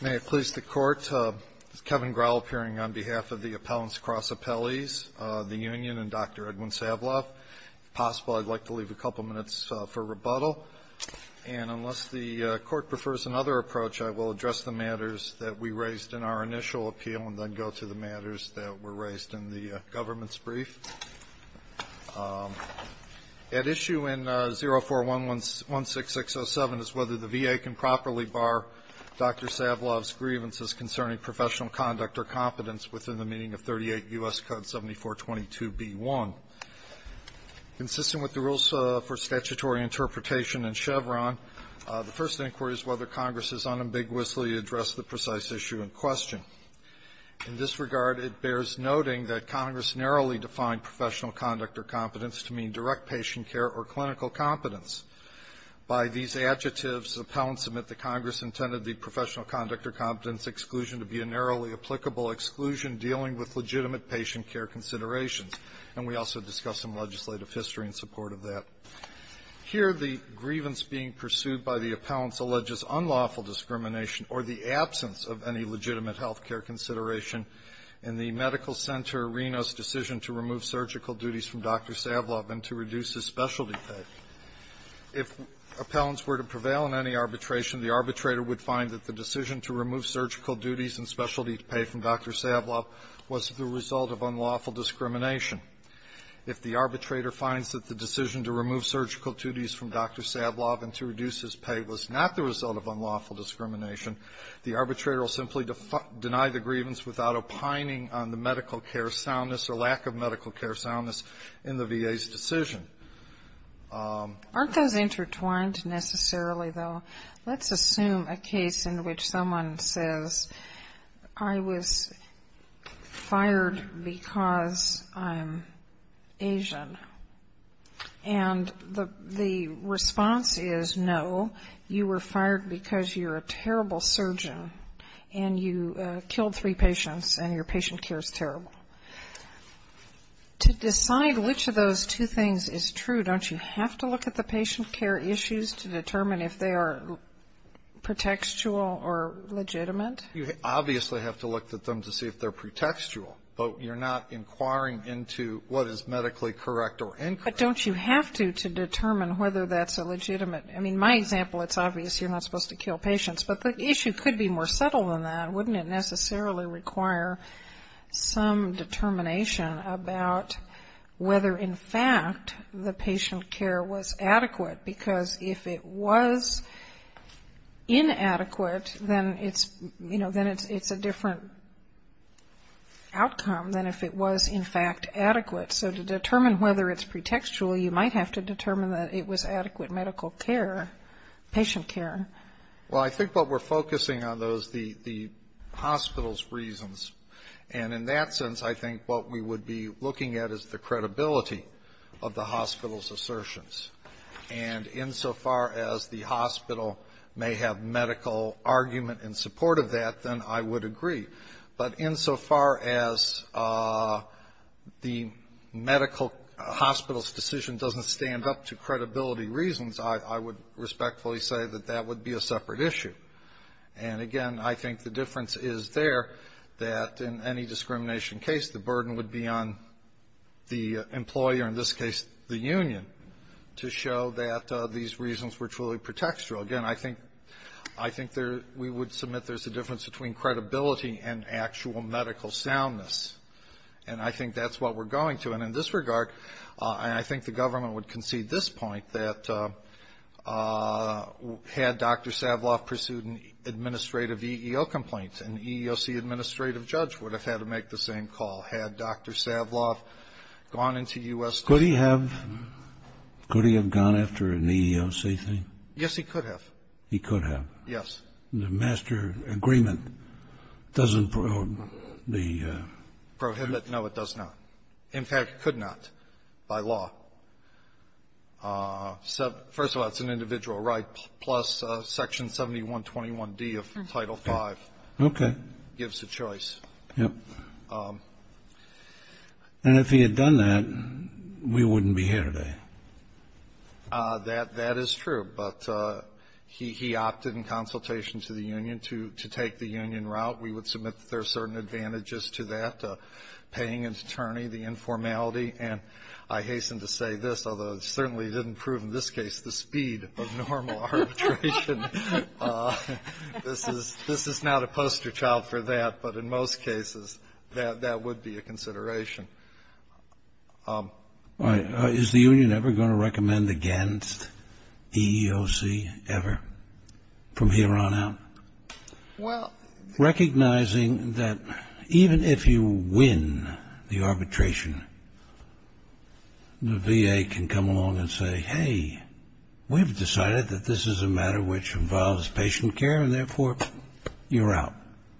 May it please the Court, this is Kevin Grohl appearing on behalf of the Appellants Cross Appellees, the Union and Dr. Edwin Savloff. If possible I'd like to leave a couple minutes for rebuttal and unless the court prefers another approach I will address the matters that we raised in our initial appeal and then go to the matters that were raised in the government's brief. At issue in 041-16607 is whether the VA can properly bar Dr. Savloff's grievances concerning professional conduct or competence within the meaning of 38 U.S. Code 7422b-1. Consistent with the rules for statutory interpretation in Chevron, the first inquiry is whether Congress has unambiguously addressed the precise issue in question. In this regard, it bears noting that Congress narrowly defined professional conduct or competence to mean direct patient care or clinical competence. By these adjectives, the Appellants submit that Congress intended the professional conduct or competence exclusion to be a narrowly applicable exclusion dealing with legitimate patient care considerations. And we also discussed some legislative history in support of that. Here, the grievance being pursued by the Appellants alleges unlawful discrimination or the absence of any legitimate health care consideration in the Medical Center Reno's decision to remove surgical duties from Dr. Savloff and to reduce his specialty pay. If Appellants were to prevail in any arbitration, the arbitrator would find that the decision to remove surgical duties and specialty pay from Dr. Savloff was the result of unlawful discrimination. If the arbitrator finds that the decision to remove surgical duties from Dr. Savloff and to reduce his pay was not the result of unlawful discrimination, the arbitrator will simply deny the grievance without opining on the medical care soundness or lack of medical care soundness in the VA's decision. Sotomayor, Aren't those intertwined necessarily, though? Let's assume a case in which someone says, I was fired because I'm Asian. And the response is, no, you were fired because you're a terrible surgeon, and you killed three patients, and your patient care is terrible. To decide which of those two things is true, don't you have to look at the patient care issues to determine if they are pretextual or legitimate? You obviously have to look at them to see if they're pretextual, but you're not inquiring into what is medically correct or incorrect. But don't you have to to determine whether that's a legitimate? I mean, my example, it's obvious you're not supposed to kill patients, but the issue could be more subtle than that. Wouldn't it necessarily require some determination about whether, in fact, the patient care was adequate? Because if it was inadequate, then it's, you know, then it's a different outcome than if it was, in fact, adequate. So to determine whether it's pretextual, you might have to determine that it was adequate medical care, patient care. Well, I think what we're focusing on, though, is the hospital's reasons. And in that sense, I think what we would be looking at is the credibility of the hospital's assertions. And insofar as the hospital may have medical argument in support of that, then I would agree. But insofar as the medical hospital's decision doesn't stand up to credibility reasons, I would respectfully say that that would be a separate issue. And, again, I think the difference is there that in any discrimination case, the burden would be on the employer, in this case the union, to show that these reasons were truly pretextual. Again, I think we would submit there's a difference between credibility and actual medical soundness. And I think that's what we're going to. And in this regard, and I think the government would concede this point, that had Dr. Savloff pursued an administrative EEO complaint, an EEOC administrative judge would have had to make the same call. Had Dr. Savloff gone into U.S. Could he have? Could he have gone after an EEOC thing? Yes, he could have. He could have. Yes. The master agreement doesn't prohibit the prohibit? No, it does not. In fact, it could not by law. First of all, it's an individual right, plus Section 7121D of Title V. Okay. Gives a choice. Yes. And if he had done that, we wouldn't be here today. That is true. But he opted in consultation to the union to take the union route. We would submit that there are certain advantages to that, paying an attorney, the informality. And I hasten to say this, although it certainly didn't prove, in this case, the speed of normal arbitration. This is not a poster child for that. But in most cases, that would be a consideration. All right. Is the union ever going to recommend against EEOC ever from here on out? Well. Recognizing that even if you win the arbitration, the VA can come along and say, hey, we've decided that this is a matter which involves patient care, and therefore, you're out.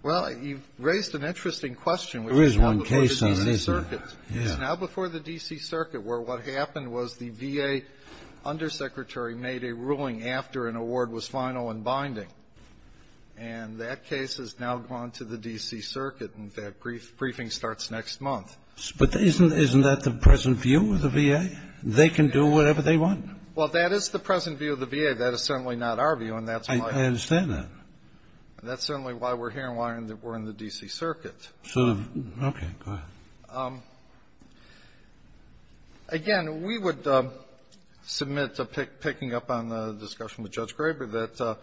Well, you've raised an interesting question. There is one case on this. It's now before the D.C. Circuit where what happened was the VA undersecretary made a ruling after an award was final and binding. And that case has now gone to the D.C. Circuit. And that briefing starts next month. But isn't that the present view of the VA? They can do whatever they want. Well, that is the present view of the VA. That is certainly not our view. And that's why we're here. I understand that. And that's certainly why we're here and why we're in the D.C. Circuit. Okay. Go ahead. Again, we would submit, picking up on the discussion with Judge Graber, that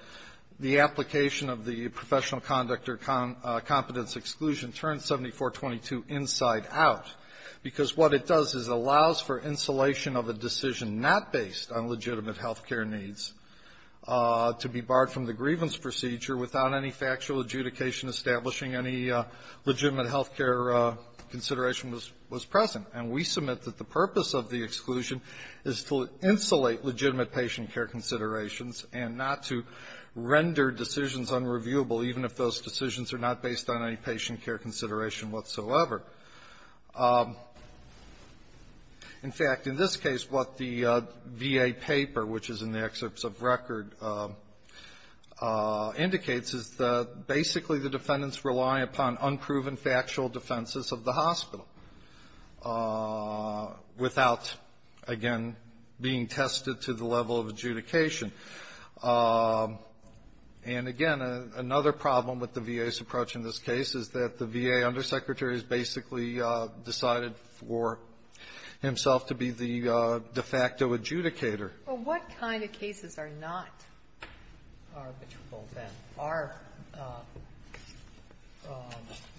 the application of the professional conduct or competence exclusion turns 7422 inside out, because what it does is allows for insulation of a decision not based on legitimate health care needs to be barred from the grievance procedure without any factual health care consideration was present. And we submit that the purpose of the exclusion is to insulate legitimate patient care considerations and not to render decisions unreviewable, even if those decisions are not based on any patient care consideration whatsoever. In fact, in this case, what the VA paper, which is in the excerpts of record, indicates is that basically the defendants rely upon unproven factual defenses of the hospital without, again, being tested to the level of adjudication. And, again, another problem with the VA's approach in this case is that the VA undersecretary has basically decided for himself to be the de facto adjudicator. Sotomayor, what kind of cases are not arbitrable that are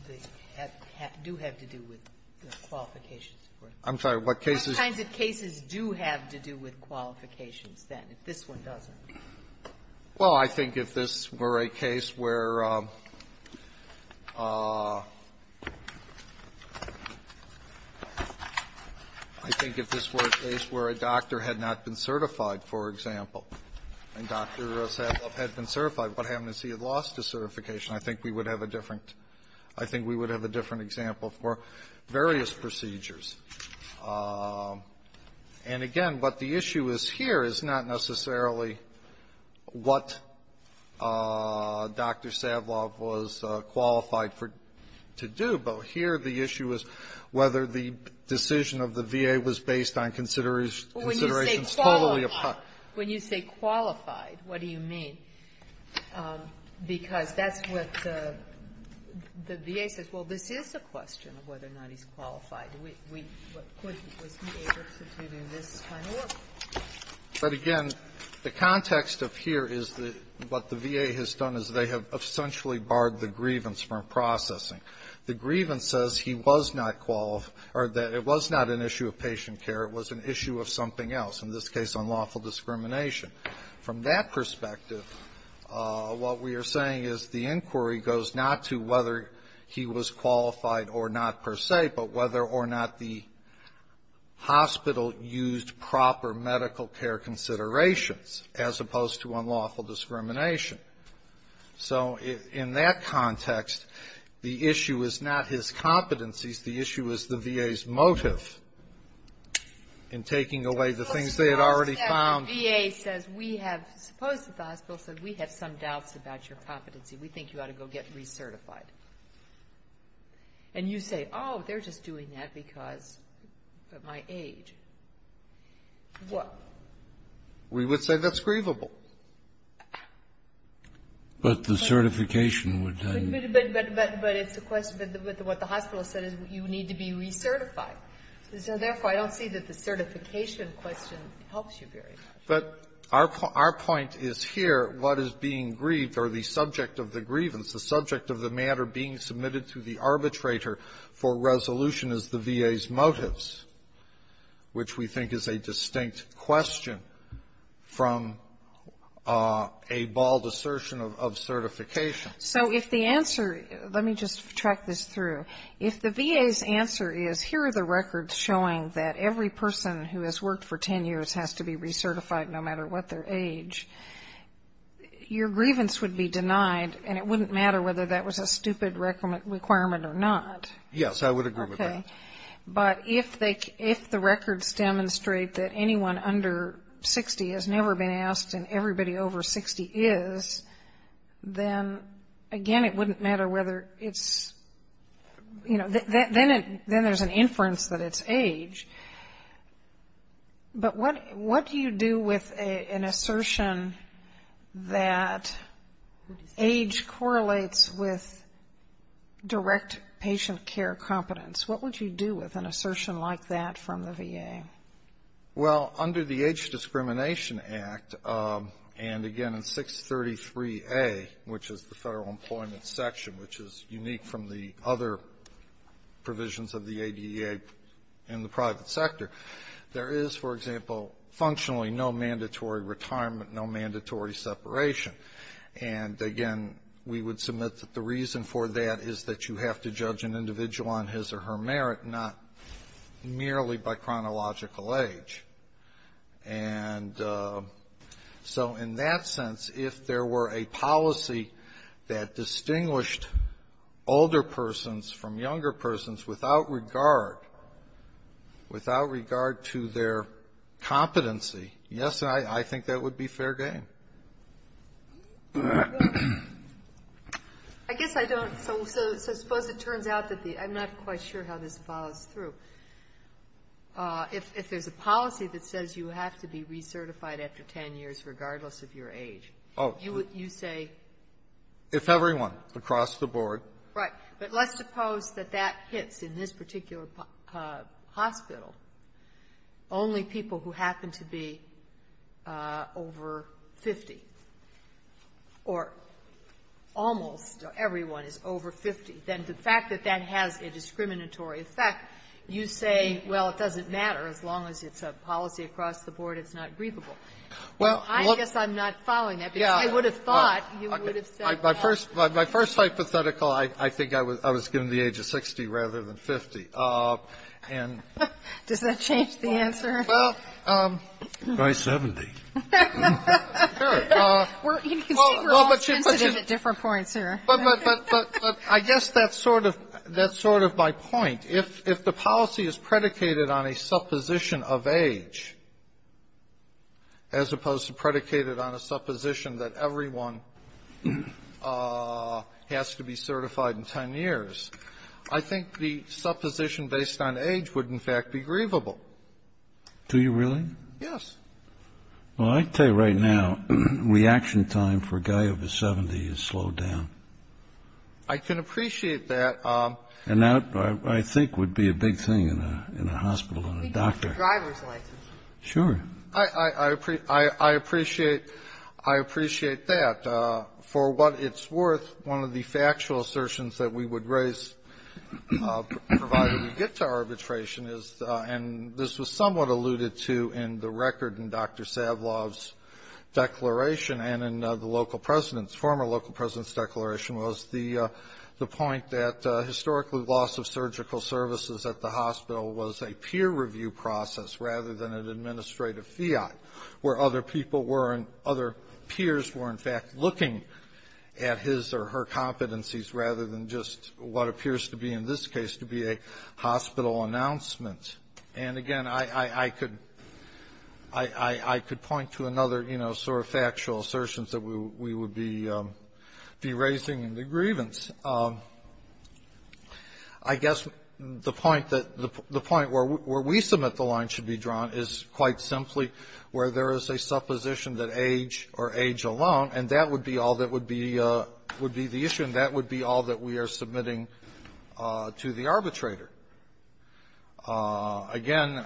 the do have to do with qualifications? I'm sorry, what cases? What kinds of cases do have to do with qualifications then, if this one doesn't? Well, I think if this were a case where I think if this were a case where a doctor had not been certified, for example, and Dr. Savlov had been certified, what happens if he had lost his certification? I think we would have a different I think we would have a different example for various procedures. And, again, what the issue is here is not necessarily what Dr. Savlov was qualified to do, but here the issue is whether the decision of the VA was based on considerations totally apart. When you say qualified, what do you mean? Because that's what the VA says, well, this is a question of whether or not he's qualified. Was he able to do this kind of work? But, again, the context of here is that what the VA has done is they have essentially barred the grievance from processing. The grievance says he was not qualified or that it was not an issue of patient care, it was an issue of something else. In this case, unlawful discrimination. From that perspective, what we are saying is the inquiry goes not to whether he was qualified or not per se, but whether or not the hospital used proper medical care considerations as opposed to unlawful discrimination. So, in that context, the issue is not his competencies. The issue is the VA's motive in taking away the things they had already found. We have some doubts about your competency. We think you ought to go get recertified. And you say, oh, they're just doing that because of my age. What? We would say that's grievable. But the certification would then be. But it's a question of what the hospital said is you need to be recertified. So, therefore, I don't see that the certification question helps you very much. But our point is here, what is being grieved or the subject of the grievance, the subject of the matter being submitted to the arbitrator for resolution is the VA's motives, which we think is a distinct question from a bald assertion of certification. So if the answer, let me just track this through. If the VA's answer is, here are the records showing that every person who has worked for 10 years has to be recertified no matter what their age, your grievance would be denied, and it wouldn't matter whether that was a stupid requirement or not. Yes, I would agree with that. Okay. But if the records demonstrate that anyone under 60 has never been asked and everybody over 60 is, then, again, it wouldn't matter whether it's, you know, then there's an inference that it's age. But what do you do with an assertion that age correlates with direct patient care competence? What would you do with an assertion like that from the VA? Well, under the Age Discrimination Act, and, again, in 633A, which is the Federal Employment Section, which is unique from the other provisions of the ADA in the private sector, there is, for example, functionally no mandatory retirement, no we would submit that the reason for that is that you have to judge an individual on his or her merit, not merely by chronological age. And so in that sense, if there were a policy that distinguished older persons from younger persons without regard, without regard to their competency, yes, I think that would be fair game. I guess I don't so suppose it turns out that the I'm not quite sure how this follows through. If there's a policy that says you have to be recertified after 10 years regardless of your age, you would say? If everyone across the board. Right. But let's suppose that that hits in this particular hospital only people who happen to be over 50, or almost everyone is over 50, then the fact that that has a discriminatory effect, you say, well, it doesn't matter as long as it's a policy across the board, it's not grievable. Well, look. I guess I'm not following that. Yes. Because I would have thought you would have said that. My first hypothetical, I think I was given the age of 60 rather than 50. Does that change the answer? By 70. You can see we're all sensitive at different points here. But I guess that's sort of my point. If the policy is predicated on a supposition of age as opposed to predicated on a supposition that everyone has to be certified in 10 years, I think the supposition based on age would, in fact, be grievable. Do you really? Yes. Well, I tell you right now, reaction time for a guy over 70 is slowed down. I can appreciate that. And that, I think, would be a big thing in a hospital, in a doctor. We need a driver's license. Sure. I appreciate that. For what it's worth, one of the factual assertions that we would raise provided we get to arbitration is, and this was somewhat alluded to in the record in Dr. Savlov's declaration and in the local president's, former local president's declaration, was the point that historically loss of surgical services at the hospital was a peer review process rather than an administrative fiat where other people were and other peers were, in fact, looking at his or her competencies rather than just what appears to be, in this case, to be a hospital announcement. And again, I could point to another, you know, sort of factual assertions that we would be raising in the grievance. I guess the point that the point where we submit the line should be drawn is quite simply where there is a supposition that age or age alone, and that would be all that would be the issue, and that would be all that we are submitting to the arbitrator. Again,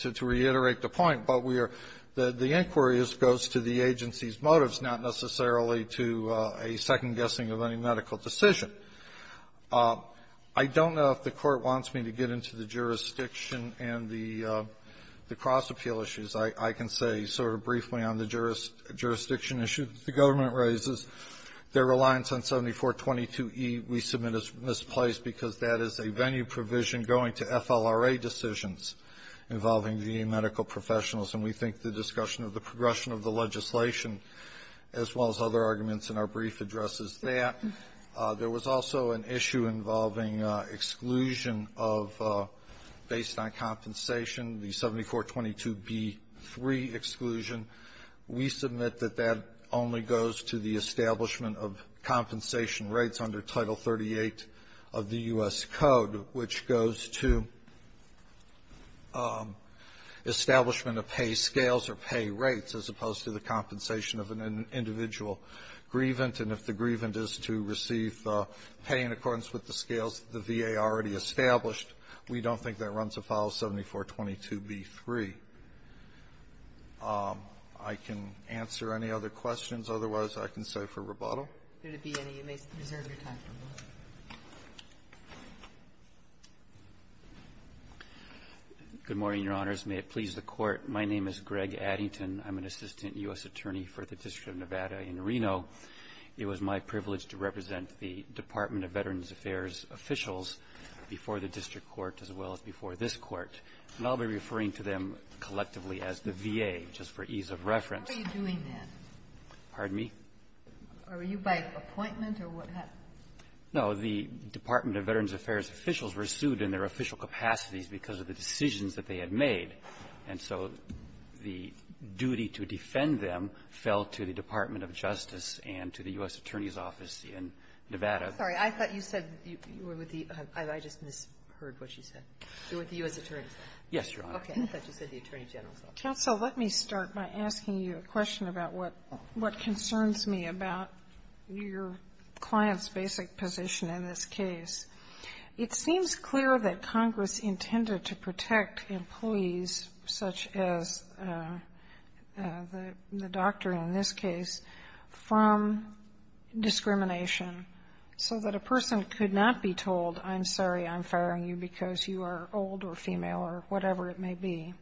to reiterate the point, but we are the inquiry goes to the agency's motives, not necessarily to a second-guessing of any medical decision. I don't know if the Court wants me to get into the jurisdiction and the cross-appeal of the medical issues. I can say sort of briefly on the jurisdiction issue that the government raises, their reliance on 7422E we submit as misplaced because that is a venue provision going to FLRA decisions involving VA medical professionals. And we think the discussion of the progression of the legislation, as well as other arguments in our brief, addresses that. There was also an issue involving exclusion of, based on compensation, the 7422B3 exclusion. We submit that that only goes to the establishment of compensation rates under Title 38 of the U.S. Code, which goes to establishment of pay scales or pay rates, as opposed to the compensation of an individual grievant. And if the grievant is to receive pay in accordance with the scales that the VA already established, we don't think that runs afoul of 7422B3. I can answer any other questions. Otherwise, I can say for rebuttal. Ginsburg. If there would be any, you may reserve your time for a moment. Addington. Good morning, Your Honors. May it please the Court, my name is Greg Addington. I'm an assistant U.S. attorney for the District of Nevada in Reno. It was my privilege to represent the Department of Veterans Affairs officials before the district court, as well as before this Court. And I'll be referring to them collectively as the VA, just for ease of reference. Kagan. How are you doing that? Addington. Pardon me? Kagan. Are you by appointment, or what happened? Addington. No. The Department of Veterans Affairs officials were sued in their official capacities because of the decisions that they had made. And so the duty to defend them fell to the Department of Justice and to the U.S. Attorney's Office in Nevada. Kagan. Sorry. I thought you said you were with the — I just misheard what you said. You were with the U.S. Attorney's Office. Addington. Yes, Your Honor. Kagan. Okay. I thought you said the Attorney General's Office. Sotomayor. Counsel, let me start by asking you a question about what concerns me about your client's basic position in this case. It seems clear that Congress is trying to separate, in this case, from discrimination so that a person could not be told, I'm sorry, I'm firing you because you are old or female or whatever it may be.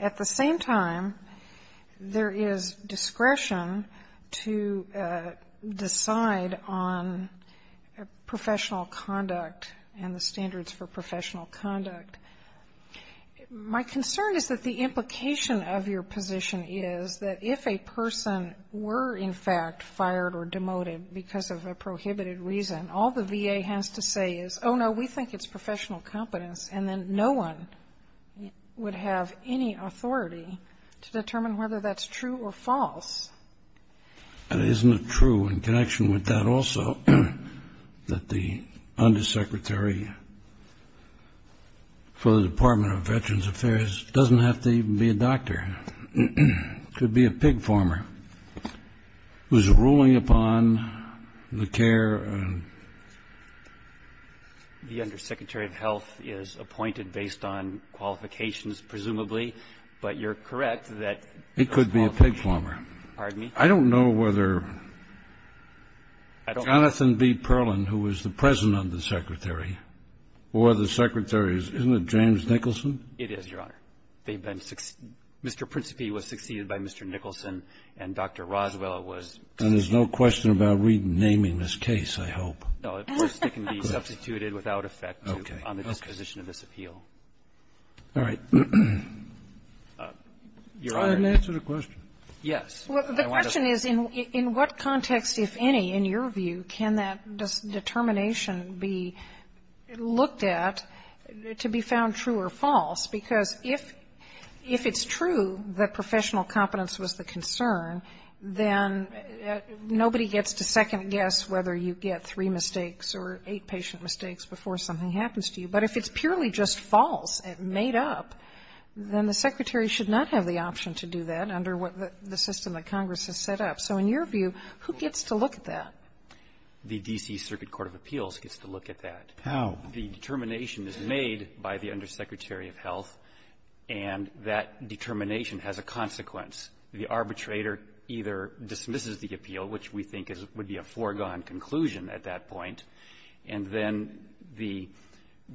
At the same time, there is discretion to decide on professional conduct and the standards for professional conduct. My concern is that the person were, in fact, fired or demoted because of a prohibited reason. All the VA has to say is, oh, no, we think it's professional competence, and then no one would have any authority to determine whether that's true or false. Addington. And isn't it true in connection with that also that the Undersecretary for the Health, who's ruling upon the care and the Undersecretary of Health is appointed based on qualifications, presumably, but you're correct that it could be a pig plumber. Sotomayor. Pardon me? Addington. I don't know whether Jonathan B. Perlin, who was the President of the Secretary, or the Secretary's, isn't it James Nicholson? Addington. It is, Your Honor. They've been Mr. Principe was succeeded by Mr. Nicholson, and Dr. Roswell was succeeded. And there's no question about renaming this case, I hope. No. Of course, it can be substituted without effect on the disposition of this appeal. All right. Your Honor. I haven't answered the question. Yes. Well, the question is, in what context, if any, in your view, can that determination be looked at to be found true or false? Because if it's true that professional competence was the concern, then nobody gets to second-guess whether you get three mistakes or eight patient mistakes before something happens to you. But if it's purely just false, made up, then the Secretary should not have the option to do that under what the system that Congress has set up. So in your view, who gets to look at that? The D.C. Circuit Court of Appeals gets to look at that. How? The determination is made by the Undersecretary of Health, and that determination has a consequence. The arbitrator either dismisses the appeal, which we think would be a foregone conclusion at that point, and then the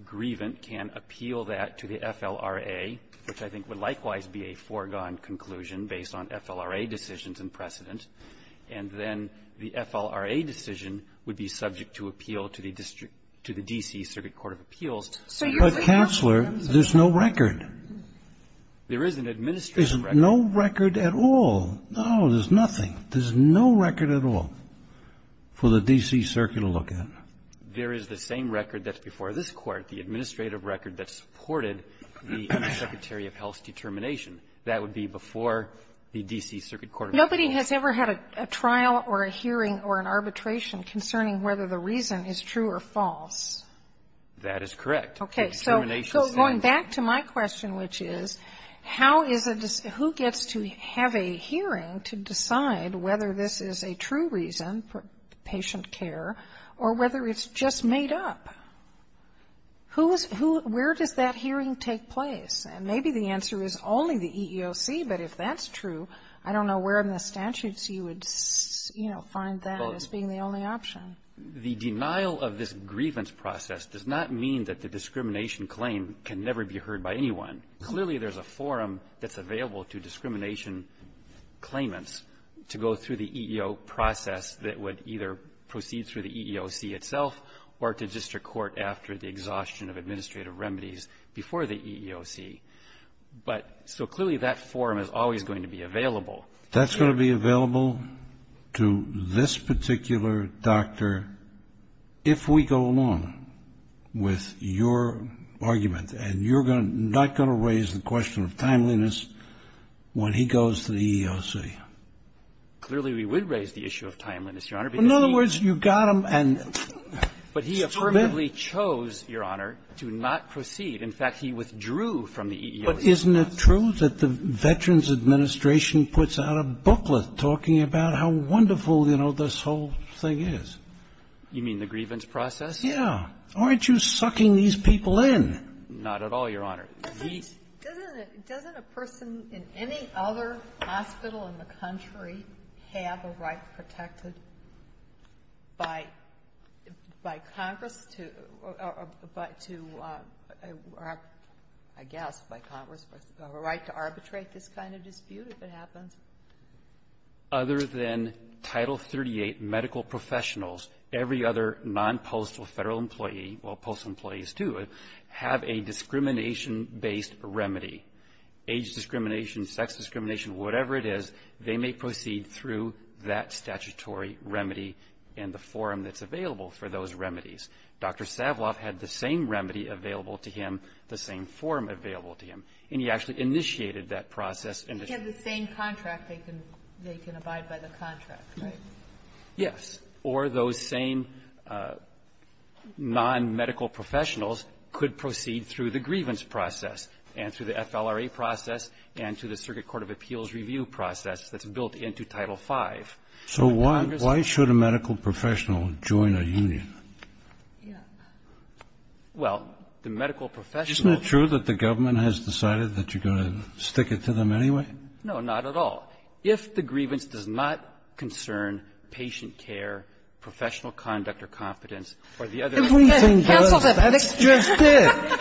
grievant can appeal that to the FLRA, which I think would likewise be a foregone conclusion based on FLRA decisions and precedent, and then the FLRA decision would be subject to appeal to the district to the D.C. Circuit Court of Appeals. But, Counselor, there's no record. There is an administrative record. There's no record at all. No, there's nothing. There's no record at all for the D.C. Circuit to look at. There is the same record that's before this Court, the administrative record that supported the Undersecretary of Health's determination. That would be before the D.C. Circuit Court of Appeals. Nobody has ever had a trial or a hearing or an arbitration concerning whether the reason is true or false. That is correct. Okay. So going back to my question, which is, how is a who gets to have a hearing to decide whether this is a true reason for patient care or whether it's just made up? Who is who where does that hearing take place? And maybe the answer is only the EEOC, but if that's true, I don't know where in the statutes you would, you know, find that as being the only option. The denial of this grievance process does not mean that the discrimination claim can never be heard by anyone. Clearly, there's a forum that's available to discrimination claimants to go through the EEO process that would either proceed through the EEOC itself or to district court after the exhaustion of administrative remedies before the EEOC. But so clearly, that forum is always going to be available. That's going to be available to this particular doctor if we go along with your argument. And you're not going to raise the question of timeliness when he goes to the EEOC. Clearly, we would raise the issue of timeliness, Your Honor, because he — Well, in other words, you got him and — But he affirmatively chose, Your Honor, to not proceed. In fact, he withdrew from the EEOC process. But isn't it true that the Veterans Administration puts out a booklet talking about how wonderful, you know, this whole thing is? You mean the grievance process? Yeah. Aren't you sucking these people in? Not at all, Your Honor. He's — Doesn't a person in any other hospital in the country have a right protected by Congress to — or to, I guess, by Congress, a right to arbitrate this kind of dispute if it happens? Other than Title 38 medical professionals, every other non-postal Federal employee — well, postal employees, too — have a discrimination-based remedy. Age discrimination, sex discrimination, whatever it is, they may proceed through that statutory remedy in the form that's available for those remedies. Dr. Savloff had the same remedy available to him, the same form available to him. And he actually initiated that process. He had the same contract. They can abide by the contract, right? Yes. Or those same non-medical professionals could proceed through the grievance process and through the FLRA process and through the Circuit Court of Appeals review process that's built into Title V. So why should a medical professional join a union? Well, the medical professional — Isn't it true that the government has decided that you're going to stick it to them anyway? No, not at all. If the grievance does not concern patient care, professional conduct or confidence or the other — Everything does. That's just it.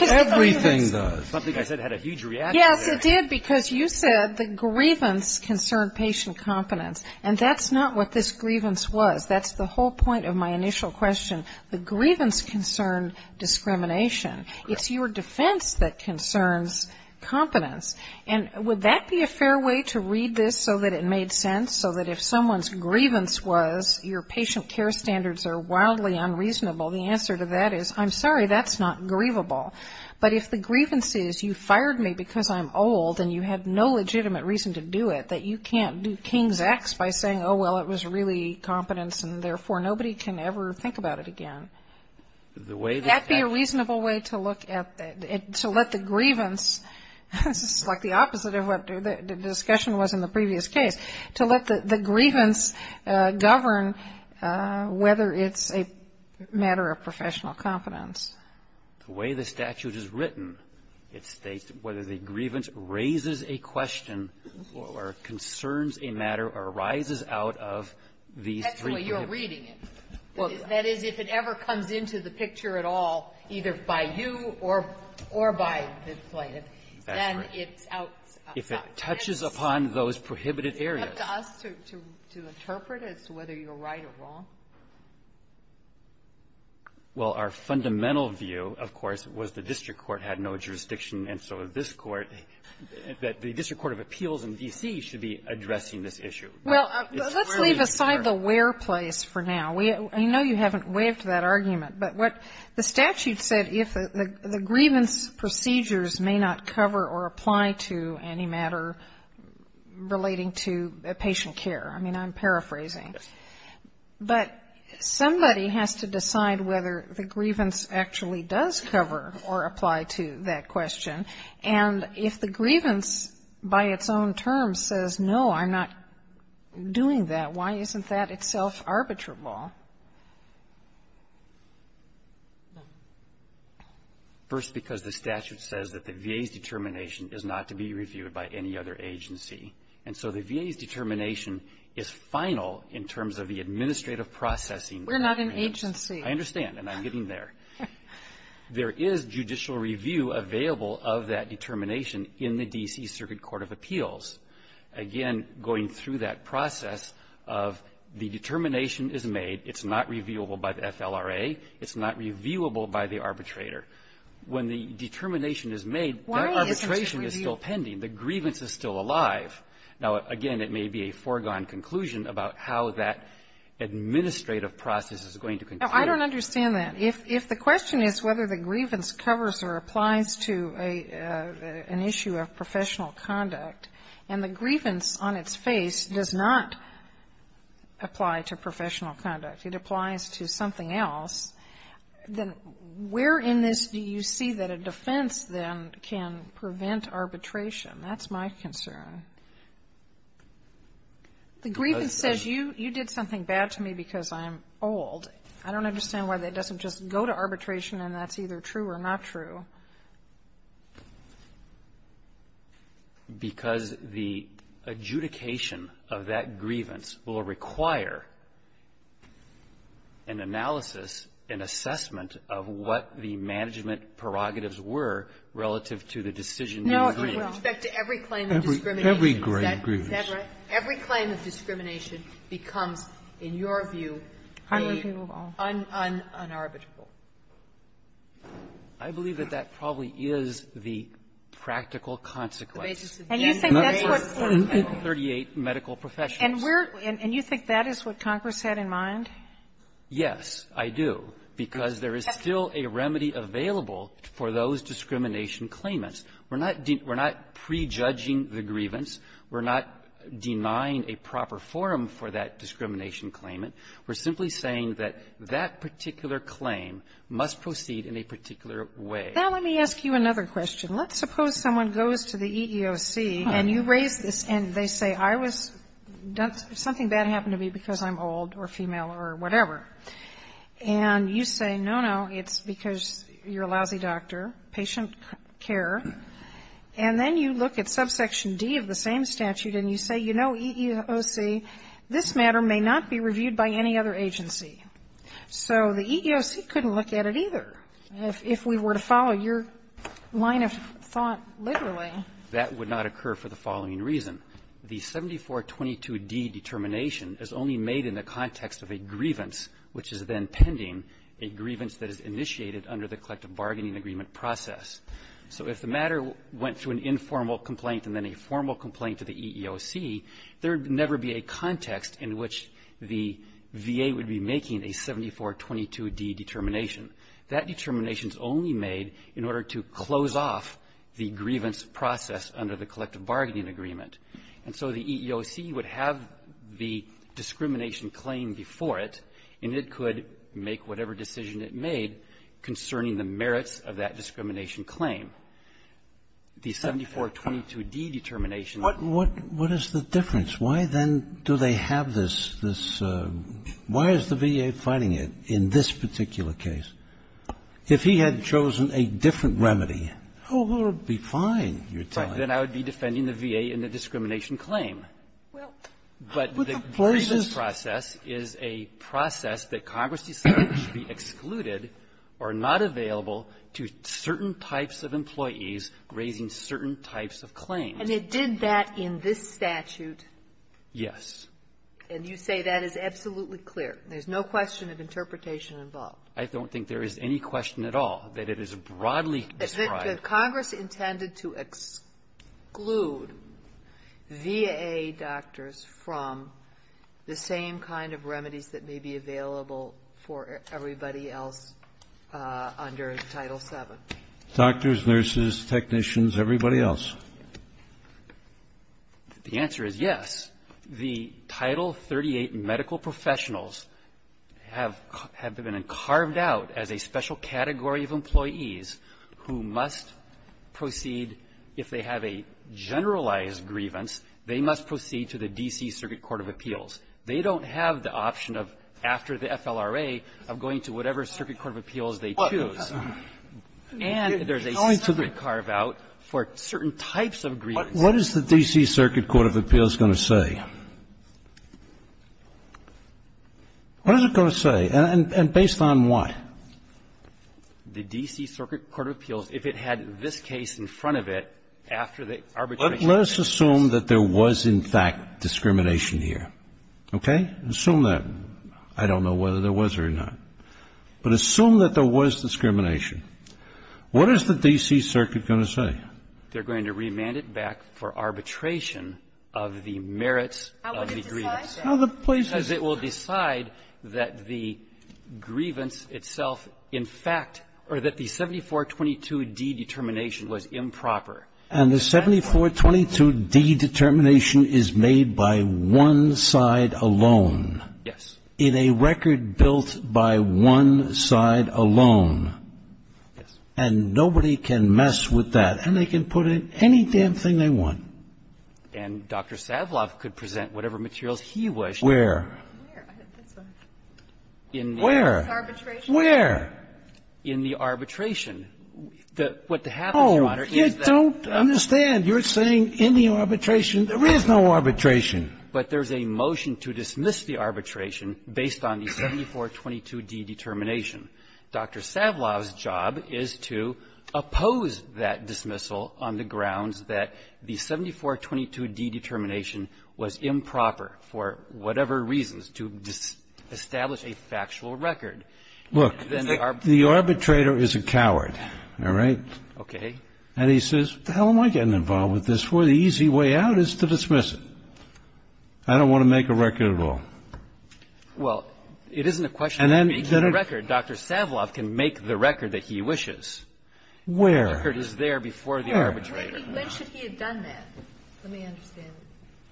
Everything does. Something I said had a huge reaction there. Yes, it did, because you said the grievance concerned patient confidence. And that's not what this grievance was. That's the whole point of my initial question. The grievance concerned discrimination. It's your defense that concerns confidence. And would that be a fair way to read this so that it made sense? So that if someone's grievance was your patient care standards are wildly unreasonable, the answer to that is, I'm sorry, that's not grievable. But if the grievance is you fired me because I'm old and you have no legitimate reason to do it, that you can't do King's X by saying, oh, well, it was really confidence and therefore nobody can ever think about it again. The way that — Could that be a reasonable way to look at — to let the grievance — this is like the opposite of what the discussion was in the previous case — to let the grievance govern whether it's a matter of professional confidence. The way the statute is written, it states whether the grievance raises a question or concerns a matter or rises out of these three — Technically, you're reading it. That is, if it ever comes into the picture at all, either by you or by the plaintiff, then it's out — If it touches upon those prohibited areas. It's up to us to interpret as to whether you're right or wrong. Well, our fundamental view, of course, was the district court had no jurisdiction. And so this court — that the district court of appeals in D.C. should be addressing this issue. Well, let's leave aside the where place for now. We — I know you haven't waived that argument. But what the statute said, if — the grievance procedures may not cover or apply to any matter relating to patient care. I mean, I'm paraphrasing. Yes. But somebody has to decide whether the grievance actually does cover or apply to that question. And if the grievance, by its own terms, says, no, I'm not doing that, why isn't that itself arbitrable? First, because the statute says that the VA's determination is not to be reviewed by any other agency. And so the VA's determination is final in terms of the administrative processing. We're not an agency. I understand. And I'm getting there. There is judicial review available of that determination in the D.C. Circuit Court of Appeals. Again, going through that process of the determination is made. It's not reviewable by the FLRA. It's not reviewable by the arbitrator. When the determination is made, that arbitration is still pending. The grievance is still alive. Now, again, it may be a foregone conclusion about how that administrative process is going to continue. Now, I don't understand that. If the question is whether the grievance covers or applies to an issue of professional conduct, and the grievance on its face does not apply to professional conduct. It applies to something else. Then where in this do you see that a defense, then, can prevent arbitration? That's my concern. The grievance says you did something bad to me because I'm old. I don't understand why that doesn't just go to arbitration and that's either true or not true. Because the adjudication of that grievance will require an analysis, an assessment of what the management prerogatives were relative to the decision you agreed. No, it will. With respect to every claim of discrimination. Every grievance. Is that right? Every claim of discrimination becomes, in your view, the un-un-unarbitrable. I believe that that probably is the practical consequence. And you think that's what 38 medical professionals do. And you think that is what Congress had in mind? Yes, I do. Because there is still a remedy available for those discrimination claimants. We're not pre-judging the grievance. We're not denying a proper forum for that discrimination claimant. We're simply saying that that particular claim must proceed in a particular way. Now, let me ask you another question. Let's suppose someone goes to the EEOC and you raise this and they say, I was done something bad happened to me because I'm old or female or whatever. And you say, no, no, it's because you're a lousy doctor, patient care. And then you look at subsection D of the same statute and you say, you know, EEOC, this matter may not be reviewed by any other agency. So the EEOC couldn't look at it either. If we were to follow your line of thought literally. That would not occur for the following reason. The 7422d determination is only made in the context of a grievance, which is then pending, a grievance that is initiated under the collective bargaining agreement process. So if the matter went to an informal complaint and then a formal complaint to the EEOC, that would be in the context in which the VA would be making a 7422d determination. That determination is only made in order to close off the grievance process under the collective bargaining agreement. And so the EEOC would have the discrimination claim before it, and it could make whatever decision it made concerning the merits of that discrimination claim. The 7422d determination of the EEOC is only made in the context of a grievance before they have this, this why is the VA fighting it in this particular case? If he had chosen a different remedy, how will it be fine, you're telling me? Then I would be defending the VA in the discrimination claim. But the grievance process is a process that Congress decided should be excluded or not available to certain types of employees raising certain types of claims. And it did that in this statute? Yes. And you say that is absolutely clear. There's no question of interpretation involved. I don't think there is any question at all that it is broadly described. Is it that Congress intended to exclude VA doctors from the same kind of remedies that may be available for everybody else under Title VII? Doctors, nurses, technicians, everybody else. The answer is yes. The Title 38 medical professionals have been carved out as a special category of employees who must proceed if they have a generalized grievance, they must proceed to the D.C. Circuit Court of Appeals. They don't have the option of, after the FLRA, of going to whatever circuit court of appeals they choose. And there's a separate carve-out for certain types of grievance. What is the D.C. Circuit Court of Appeals going to say? What is it going to say? And based on what? The D.C. Circuit Court of Appeals, if it had this case in front of it, after the arbitration process. Let's assume that there was, in fact, discrimination here. Okay? Assume that. I don't know whether there was or not. But assume that there was discrimination. What is the D.C. Circuit going to say? They're going to remand it back for arbitration of the merits of the grievance. How would it decide that? Because it will decide that the grievance itself, in fact, or that the 7422D determination was improper. And the 7422D determination is made by one side alone? Yes. In a record built by one side alone? Yes. And nobody can mess with that. And they can put in any damn thing they want. And Dr. Savlov could present whatever materials he wished. Where? Where? In the arbitration. What happens, Your Honor, is that the law is not going to be able to do that. Oh, you don't understand. You're saying in the arbitration. There is no arbitration. But there's a motion to dismiss the arbitration based on the 7422D determination. Dr. Savlov's job is to oppose that dismissal on the grounds that the 7422D determination was improper for whatever reasons, to establish a factual record. Look, the arbitrator is a coward, all right? Okay. And he says, what the hell am I getting involved with this for? The easy way out is to dismiss it. I don't want to make a record at all. Well, it isn't a question of making a record. Dr. Savlov can make the record that he wishes. Where? The record is there before the arbitrator. When should he have done that? Let me understand.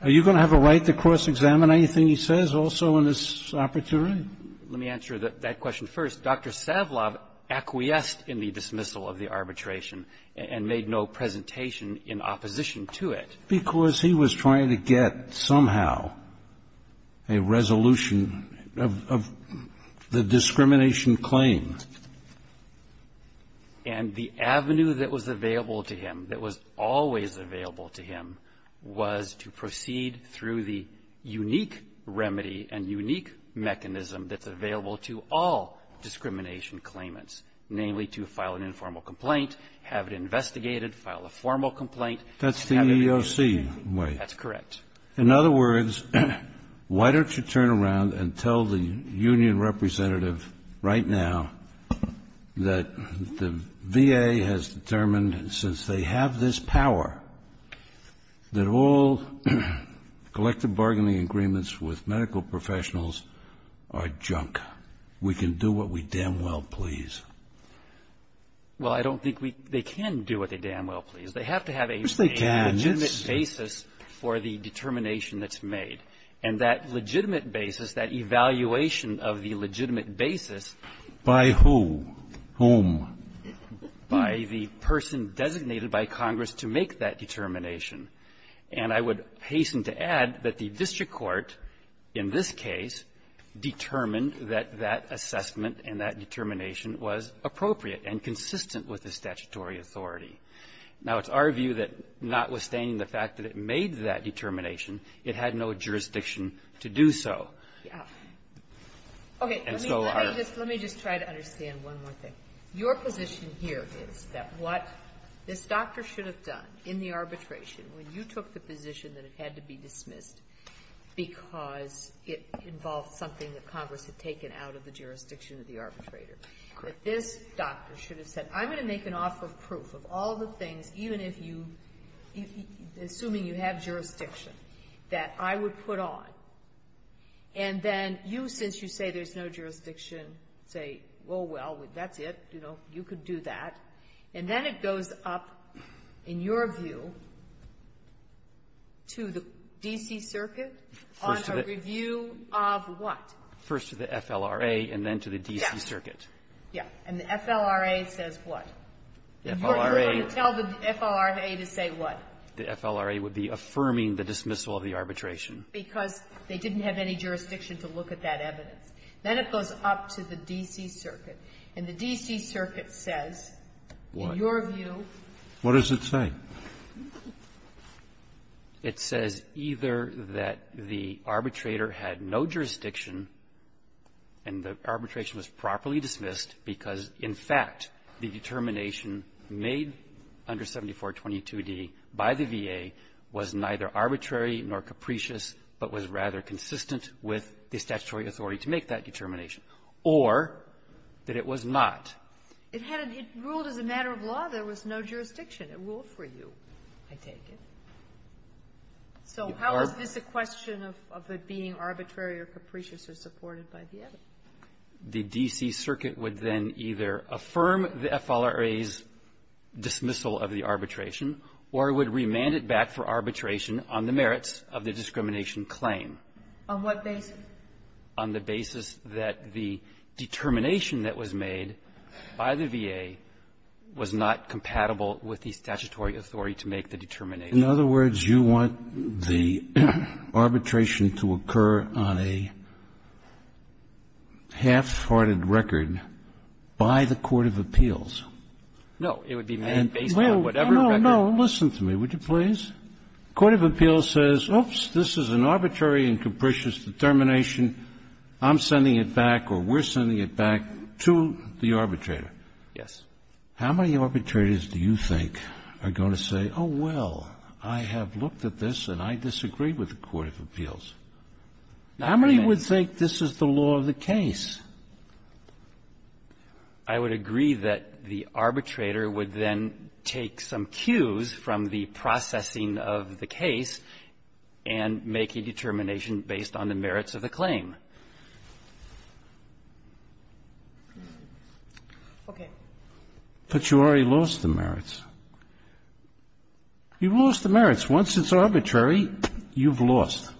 Are you going to have a right to cross-examine anything he says also in this opportunity? Let me answer that question first. Dr. Savlov acquiesced in the dismissal of the arbitration and made no presentation in opposition to it. Because he was trying to get somehow a resolution of the discrimination claim. And the avenue that was available to him, that was always available to him, was to proceed through the unique remedy and unique mechanism that's available to all discrimination claimants, namely to file an informal complaint, have it investigated, file a formal complaint. That's the EEOC way. That's correct. In other words, why don't you turn around and tell the union representative right now that the VA has determined, since they have this power, that all collective bargaining agreements with medical professionals are junk. We can do what we damn well please. Well, I don't think they can do what they damn well please. They have to have a legitimate basis for the determination that's made. And that legitimate basis, that evaluation of the legitimate basis by who, whom, by the person designated by Congress to make that determination. And I would hasten to add that the district court in this case determined that that assessment and that determination was appropriate and consistent with the statutory authority. Now, it's our view that notwithstanding the fact that it made that determination, it had no jurisdiction to do so. And so our ---- Okay. Let me just try to understand one more thing. Your position here is that what this doctor should have done in the arbitration, when you took the position that it had to be dismissed because it involved something that Congress had taken out of the jurisdiction of the arbitrator, that this doctor should have said, I'm going to make an offer of proof of all the things, even if you ---- assuming you have jurisdiction, that I would put on. And then you, since you say there's no jurisdiction, say, oh, well, that's it. You know, you could do that. And then it goes up, in your view, to the D.C. Circuit on a review of what? First to the FLRA and then to the D.C. Circuit. Yeah. And the FLRA says what? The FLRA ---- You're going to tell the FLRA to say what? The FLRA would be affirming the dismissal of the arbitration. Because they didn't have any jurisdiction to look at that evidence. Then it goes up to the D.C. Circuit. And the D.C. Circuit says, in your view ---- What does it say? It says either that the arbitrator had no jurisdiction and the arbitration was properly dismissed because, in fact, the determination made under 7422d by the VA was neither arbitrary nor capricious, but was rather consistent with the statutory authority to make that determination, or that it was not. It had a ---- it ruled as a matter of law. There was no jurisdiction. It ruled for you, I take it. So how is this a question of it being arbitrary or capricious or supported by the other? The D.C. Circuit would then either affirm the FLRA's dismissal of the arbitration or it would remand it back for arbitration on the merits of the discrimination claim. On what basis? On the basis that the determination that was made by the VA was not compatible with the statutory authority to make the determination. In other words, you want the arbitration to occur on a half-hearted record by the court of appeals. No. It would be made based on whatever record. No, no, no. Listen to me, would you please? The court of appeals says, oops, this is an arbitrary and capricious determination. I'm sending it back or we're sending it back to the arbitrator. Yes. How many arbitrators do you think are going to say, oh, well, I have looked at this and I disagree with the court of appeals? How many would think this is the law of the case? I would agree that the arbitrator would then take some cues from the processing of the case and make a determination based on the merits of the claim. Okay. But you already lost the merits. You've lost the merits. Once it's arbitrary, you've lost.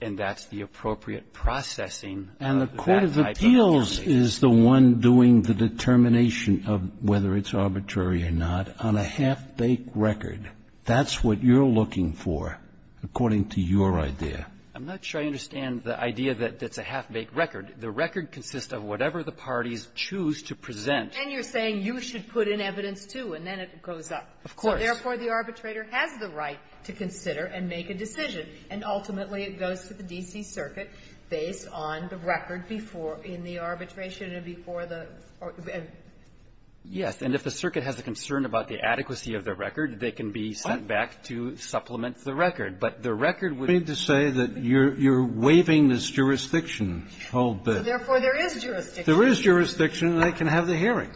And that's the appropriate processing of that type of determination. And the court of appeals is the one doing the determination of whether it's arbitrary or not on a half-baked record. That's what you're looking for, according to your idea. I'm not sure I understand the idea that it's a half-baked record. The record consists of whatever the parties choose to present. And you're saying you should put in evidence, too, and then it goes up. Of course. So therefore, the arbitrator has the right to consider and make a decision. And ultimately, it goes to the D.C. Circuit based on the record before in the arbitration and before the or the end. Yes. And if the circuit has a concern about the adequacy of the record, they can be sent back to supplement the record. But the record would be to say that you're waiving this jurisdiction a whole bit. So therefore, there is jurisdiction. There is jurisdiction, and they can have the hearing.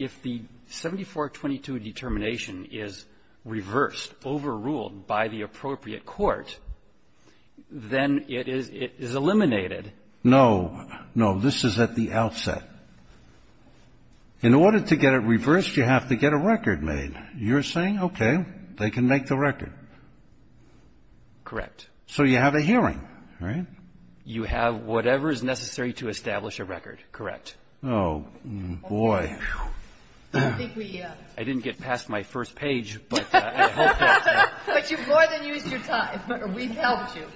If the 7422 determination is reversed, overruled by the appropriate court, then it is eliminated. No. No, this is at the outset. In order to get it reversed, you have to get a record made. You're saying, okay, they can make the record. Correct. So you have a hearing, right? You have whatever is necessary to establish a record, correct. Oh, boy. I didn't get past my first page, but I hope that's it. But you've more than used your time. We've helped you.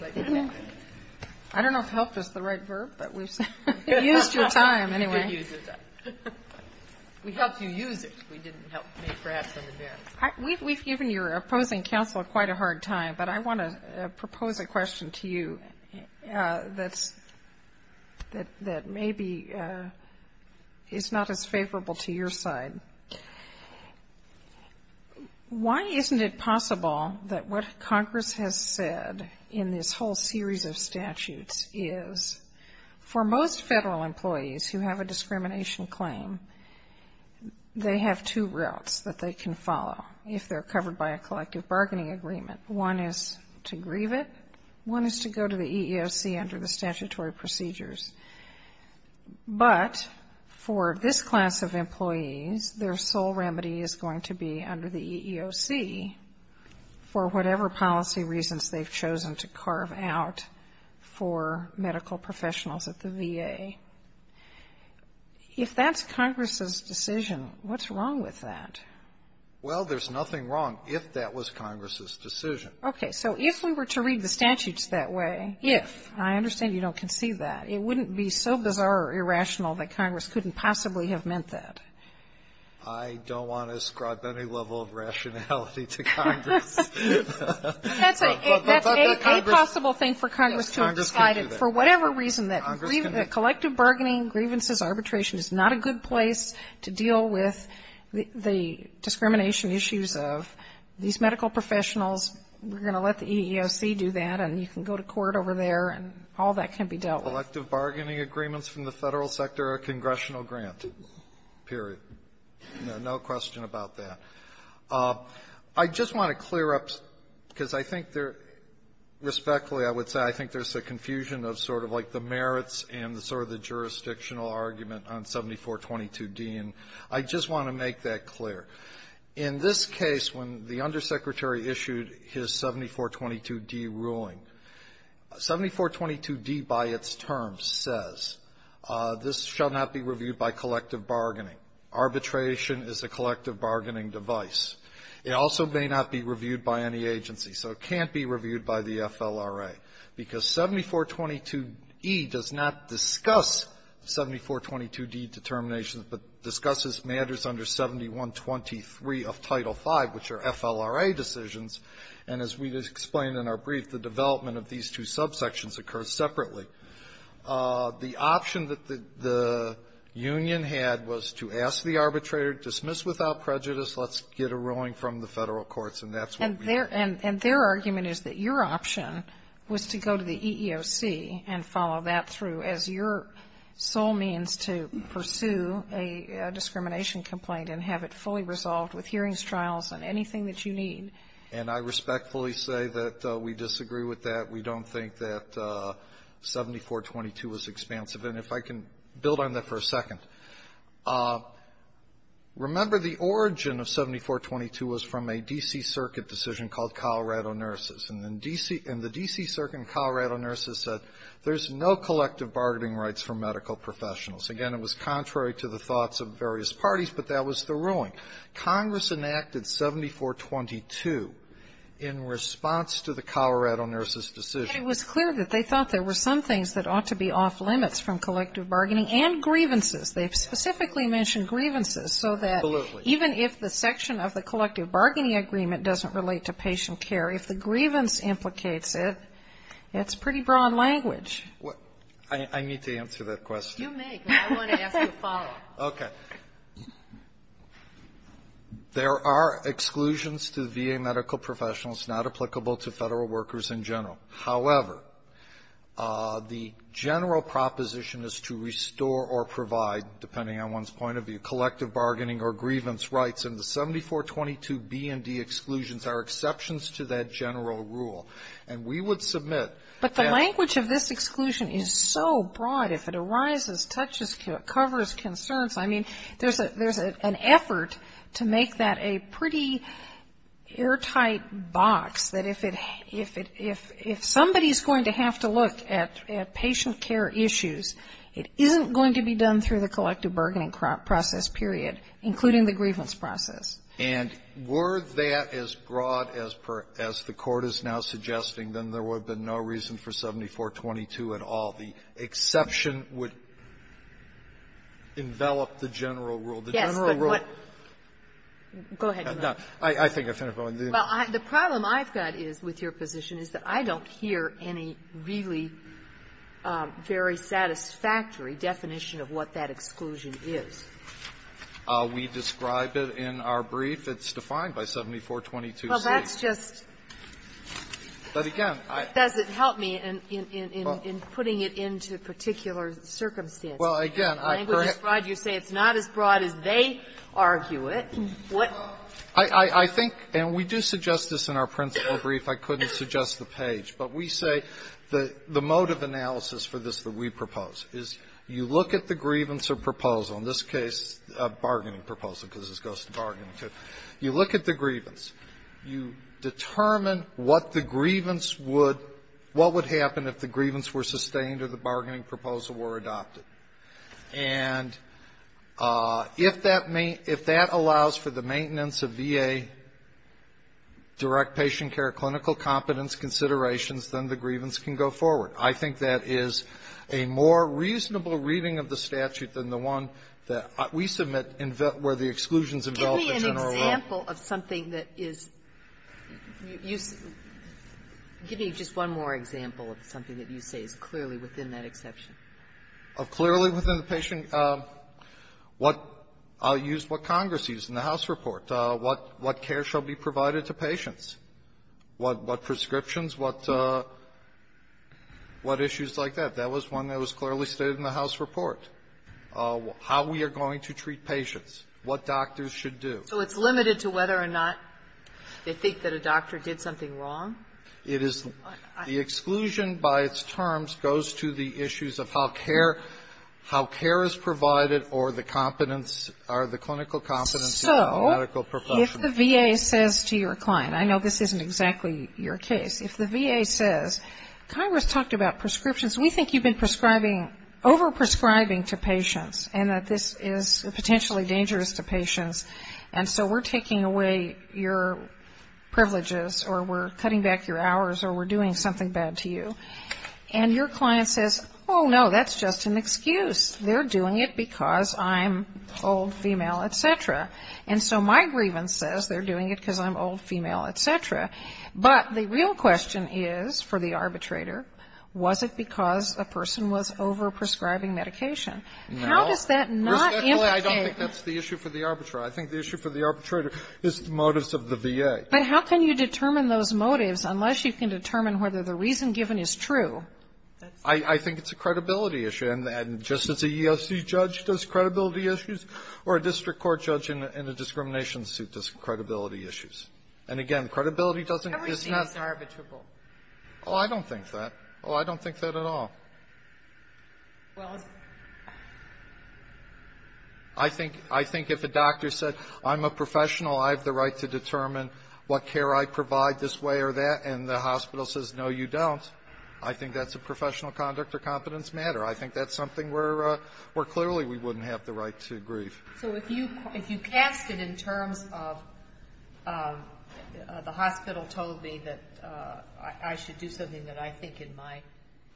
I don't know if helped is the right verb, but we've said you've used your time anyway. We helped you use it. We didn't help you perhaps in advance. We've given your opposing counsel quite a hard time, but I want to propose a question to you that maybe is not as favorable to your side. Why isn't it possible that what Congress has said in this whole series of statutes is for most federal employees who have a discrimination claim, they have two routes that they can follow if they're covered by a collective bargaining agreement. One is to grieve it. One is to go to the EEOC under the statutory procedures. But for this class of employees, their sole remedy is going to be under the EEOC for whatever policy reasons they've chosen to carve out for medical professionals at the VA. If that's Congress's decision, what's wrong with that? Well, there's nothing wrong if that was Congress's decision. Okay. So if we were to read the statutes that way, if, and I understand you don't concede that, it wouldn't be so bizarre or irrational that Congress couldn't possibly have meant that. I don't want to scrub any level of rationality to Congress. But that's a possible thing for Congress to have decided. For whatever reason, that collective bargaining, grievances, arbitration is not a good place to deal with the discrimination issues of these medical professionals. We're going to let the EEOC do that, and you can go to court over there, and all that can be dealt with. Elective bargaining agreements from the Federal sector are congressional granted, period. No question about that. I just want to clear up, because I think there, respectfully, I would say I think there's a confusion of sort of, like, the merits and sort of the jurisdictional argument on 7422d, and I just want to make that clear. In this case, when the undersecretary issued his 7422d ruling, 7422d, by its term, says, this shall not be reviewed by collective bargaining. Arbitration is a collective bargaining device. It also may not be reviewed by any agency. So it can't be reviewed by the FLRA, because 7422e does not discuss 7422d determinations, but discusses matters under 7123 of Title V, which are FLRA decisions. And as we've explained in our brief, the development of these two subsections occurs separately. The option that the union had was to ask the arbitrator, dismiss without prejudice, let's get a ruling from the Federal courts, and that's what we did. And their argument is that your option was to go to the EEOC and follow that through as your sole means to pursue a discrimination complaint and have it fully resolved with hearings, trials, and anything that you need. And I respectfully say that we disagree with that. We don't think that 7422 is expansive. And if I can build on that for a second, remember the origin of 7422 was from a D.C. Circuit decision called Colorado Nurses. And then D.C. And the D.C. Circuit and Colorado Nurses said there's no collective bargaining rights for medical professionals. Again, it was contrary to the thoughts of various parties, but that was the ruling. Congress enacted 7422 in response to the Colorado Nurses decision. And it was clear that they thought there were some things that ought to be off-limits from collective bargaining, and grievances. They specifically mentioned grievances so that even if the section of the collective bargaining agreement doesn't relate to patient care, if the grievance implicates it, it's pretty broad language. I need to answer that question. You may, but I want to ask you a follow-up. Okay. There are exclusions to VA medical professionals not applicable to Federal workers in general. However, the general proposition is to restore or provide, depending on one's point of view, collective bargaining or grievance rights. And the 7422B and D exclusions are exceptions to that general rule. And we would submit that the language of this exclusion is so broad, if it arises, touches, covers concerns. I mean, there's an effort to make that a pretty airtight box, that if it has to look at patient care issues, it isn't going to be done through the collective bargaining process, period, including the grievance process. And were that as broad as the Court is now suggesting, then there would have been no reason for 7422 at all. The exception would envelop the general rule. The general rule --- Yes, but what -- go ahead. No. I think I finished my point. Well, the problem I've got is, with your position, is that I don't hear any really very satisfactory definition of what that exclusion is. We describe it in our brief. It's defined by 7422C. Well, that's just --- But again, I --- What does it help me in putting it into particular circumstances? Language is broad, you say it's not as broad as they argue it. I think, and we do suggest this in our principal brief, I couldn't suggest the page. But we say the mode of analysis for this that we propose is, you look at the grievance or proposal, in this case a bargaining proposal, because this goes to bargaining to, you look at the grievance. You determine what the grievance would --- what would happen if the grievance were sustained or the bargaining proposal were adopted. And if that may -- if that allows for the maintenance of VA direct patient care clinical competence considerations, then the grievance can go forward. I think that is a more reasonable reading of the statute than the one that we submit where the exclusions envelop the general rule. Give me just one more example of something that you say is clearly within that exception. Of clearly within the patient --- I'll use what Congress used in the House report. What care shall be provided to patients, what prescriptions, what issues like that. That was one that was clearly stated in the House report. How we are going to treat patients, what doctors should do. So it's limited to whether or not they think that a doctor did something wrong? It is. The exclusion by its terms goes to the issues of how care is provided or the competence or the clinical competence of a medical professional. So if the VA says to your client, I know this isn't exactly your case, if the VA says, Congress talked about prescriptions, we think you've been prescribing, overprescribing to patients and that this is potentially dangerous to patients. And so we're taking away your privileges or we're cutting back your hours or we're doing something bad to you. And your client says, oh, no, that's just an excuse. They're doing it because I'm old, female, et cetera. And so my grievance says they're doing it because I'm old, female, et cetera. But the real question is for the arbitrator, was it because a person was overprescribing medication? How does that not implicate? I don't think that's the issue for the arbitrator. I think the issue for the arbitrator is the motives of the VA. But how can you determine those motives unless you can determine whether the reason given is true? I think it's a credibility issue. And just as a EEOC judge does credibility issues, or a district court judge in a discrimination suit does credibility issues. And again, credibility doesn't mean it's not arbitrable. Oh, I don't think that. Oh, I don't think that at all. I think if a doctor said, I'm a professional. I have the right to determine what care I provide this way or that. And the hospital says, no, you don't. I think that's a professional conduct or competence matter. I think that's something where clearly we wouldn't have the right to grieve. So if you cast it in terms of the hospital told me that I should do something that I think in my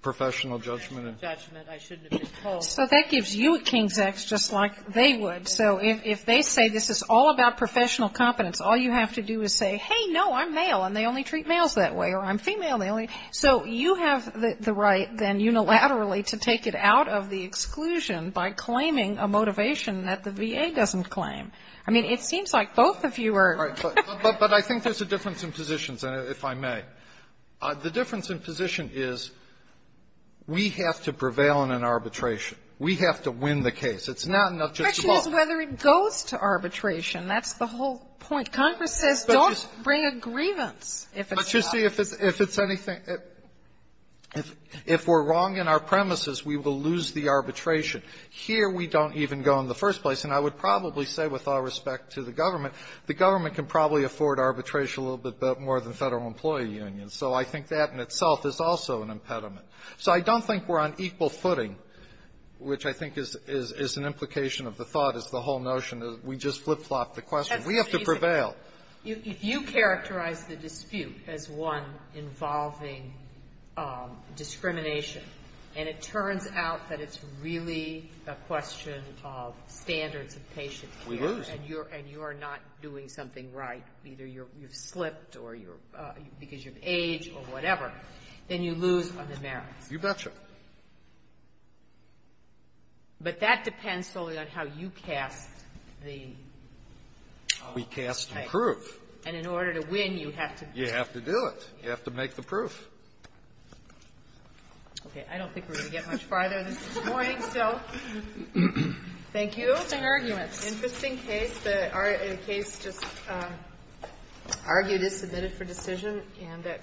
professional judgment, I shouldn't have been told. So that gives you a King's X just like they would. So if they say this is all about professional competence, all you have to do is say, hey, no, I'm male. And they only treat males that way. Or I'm female. So you have the right then unilaterally to take it out of the exclusion by claiming a motivation that the VA doesn't claim. I mean, it seems like both of you are. But I think there's a difference in positions, if I may. The difference in position is we have to prevail in an arbitration. We have to win the case. It's not enough just to vote. The question is whether it goes to arbitration. That's the whole point. Congress says don't bring a grievance if it's not. But you see, if it's anything, if we're wrong in our premises, we will lose the arbitration. Here, we don't even go in the first place. And I would probably say with all respect to the government, the government can probably afford arbitration a little bit more than Federal Employee Unions. So I think that in itself is also an impediment. So I don't think we're on equal footing, which I think is an implication of the thought is the whole notion that we just flip-flop the question. We have to prevail. Sotomayor, if you characterize the dispute as one involving discrimination, and it turns out that it's really a question of standards of patient care, and you are not doing something right, either you've slipped or you're – because you've aged or whatever, then you lose on the merits. You betcha. But that depends solely on how you cast the case. We cast the proof. And in order to win, you have to do it. You have to do it. You have to make the proof. Okay. I don't think we're going to get much farther this morning, so thank you. Interesting arguments. Interesting case. The case just argued is submitted for decision. And that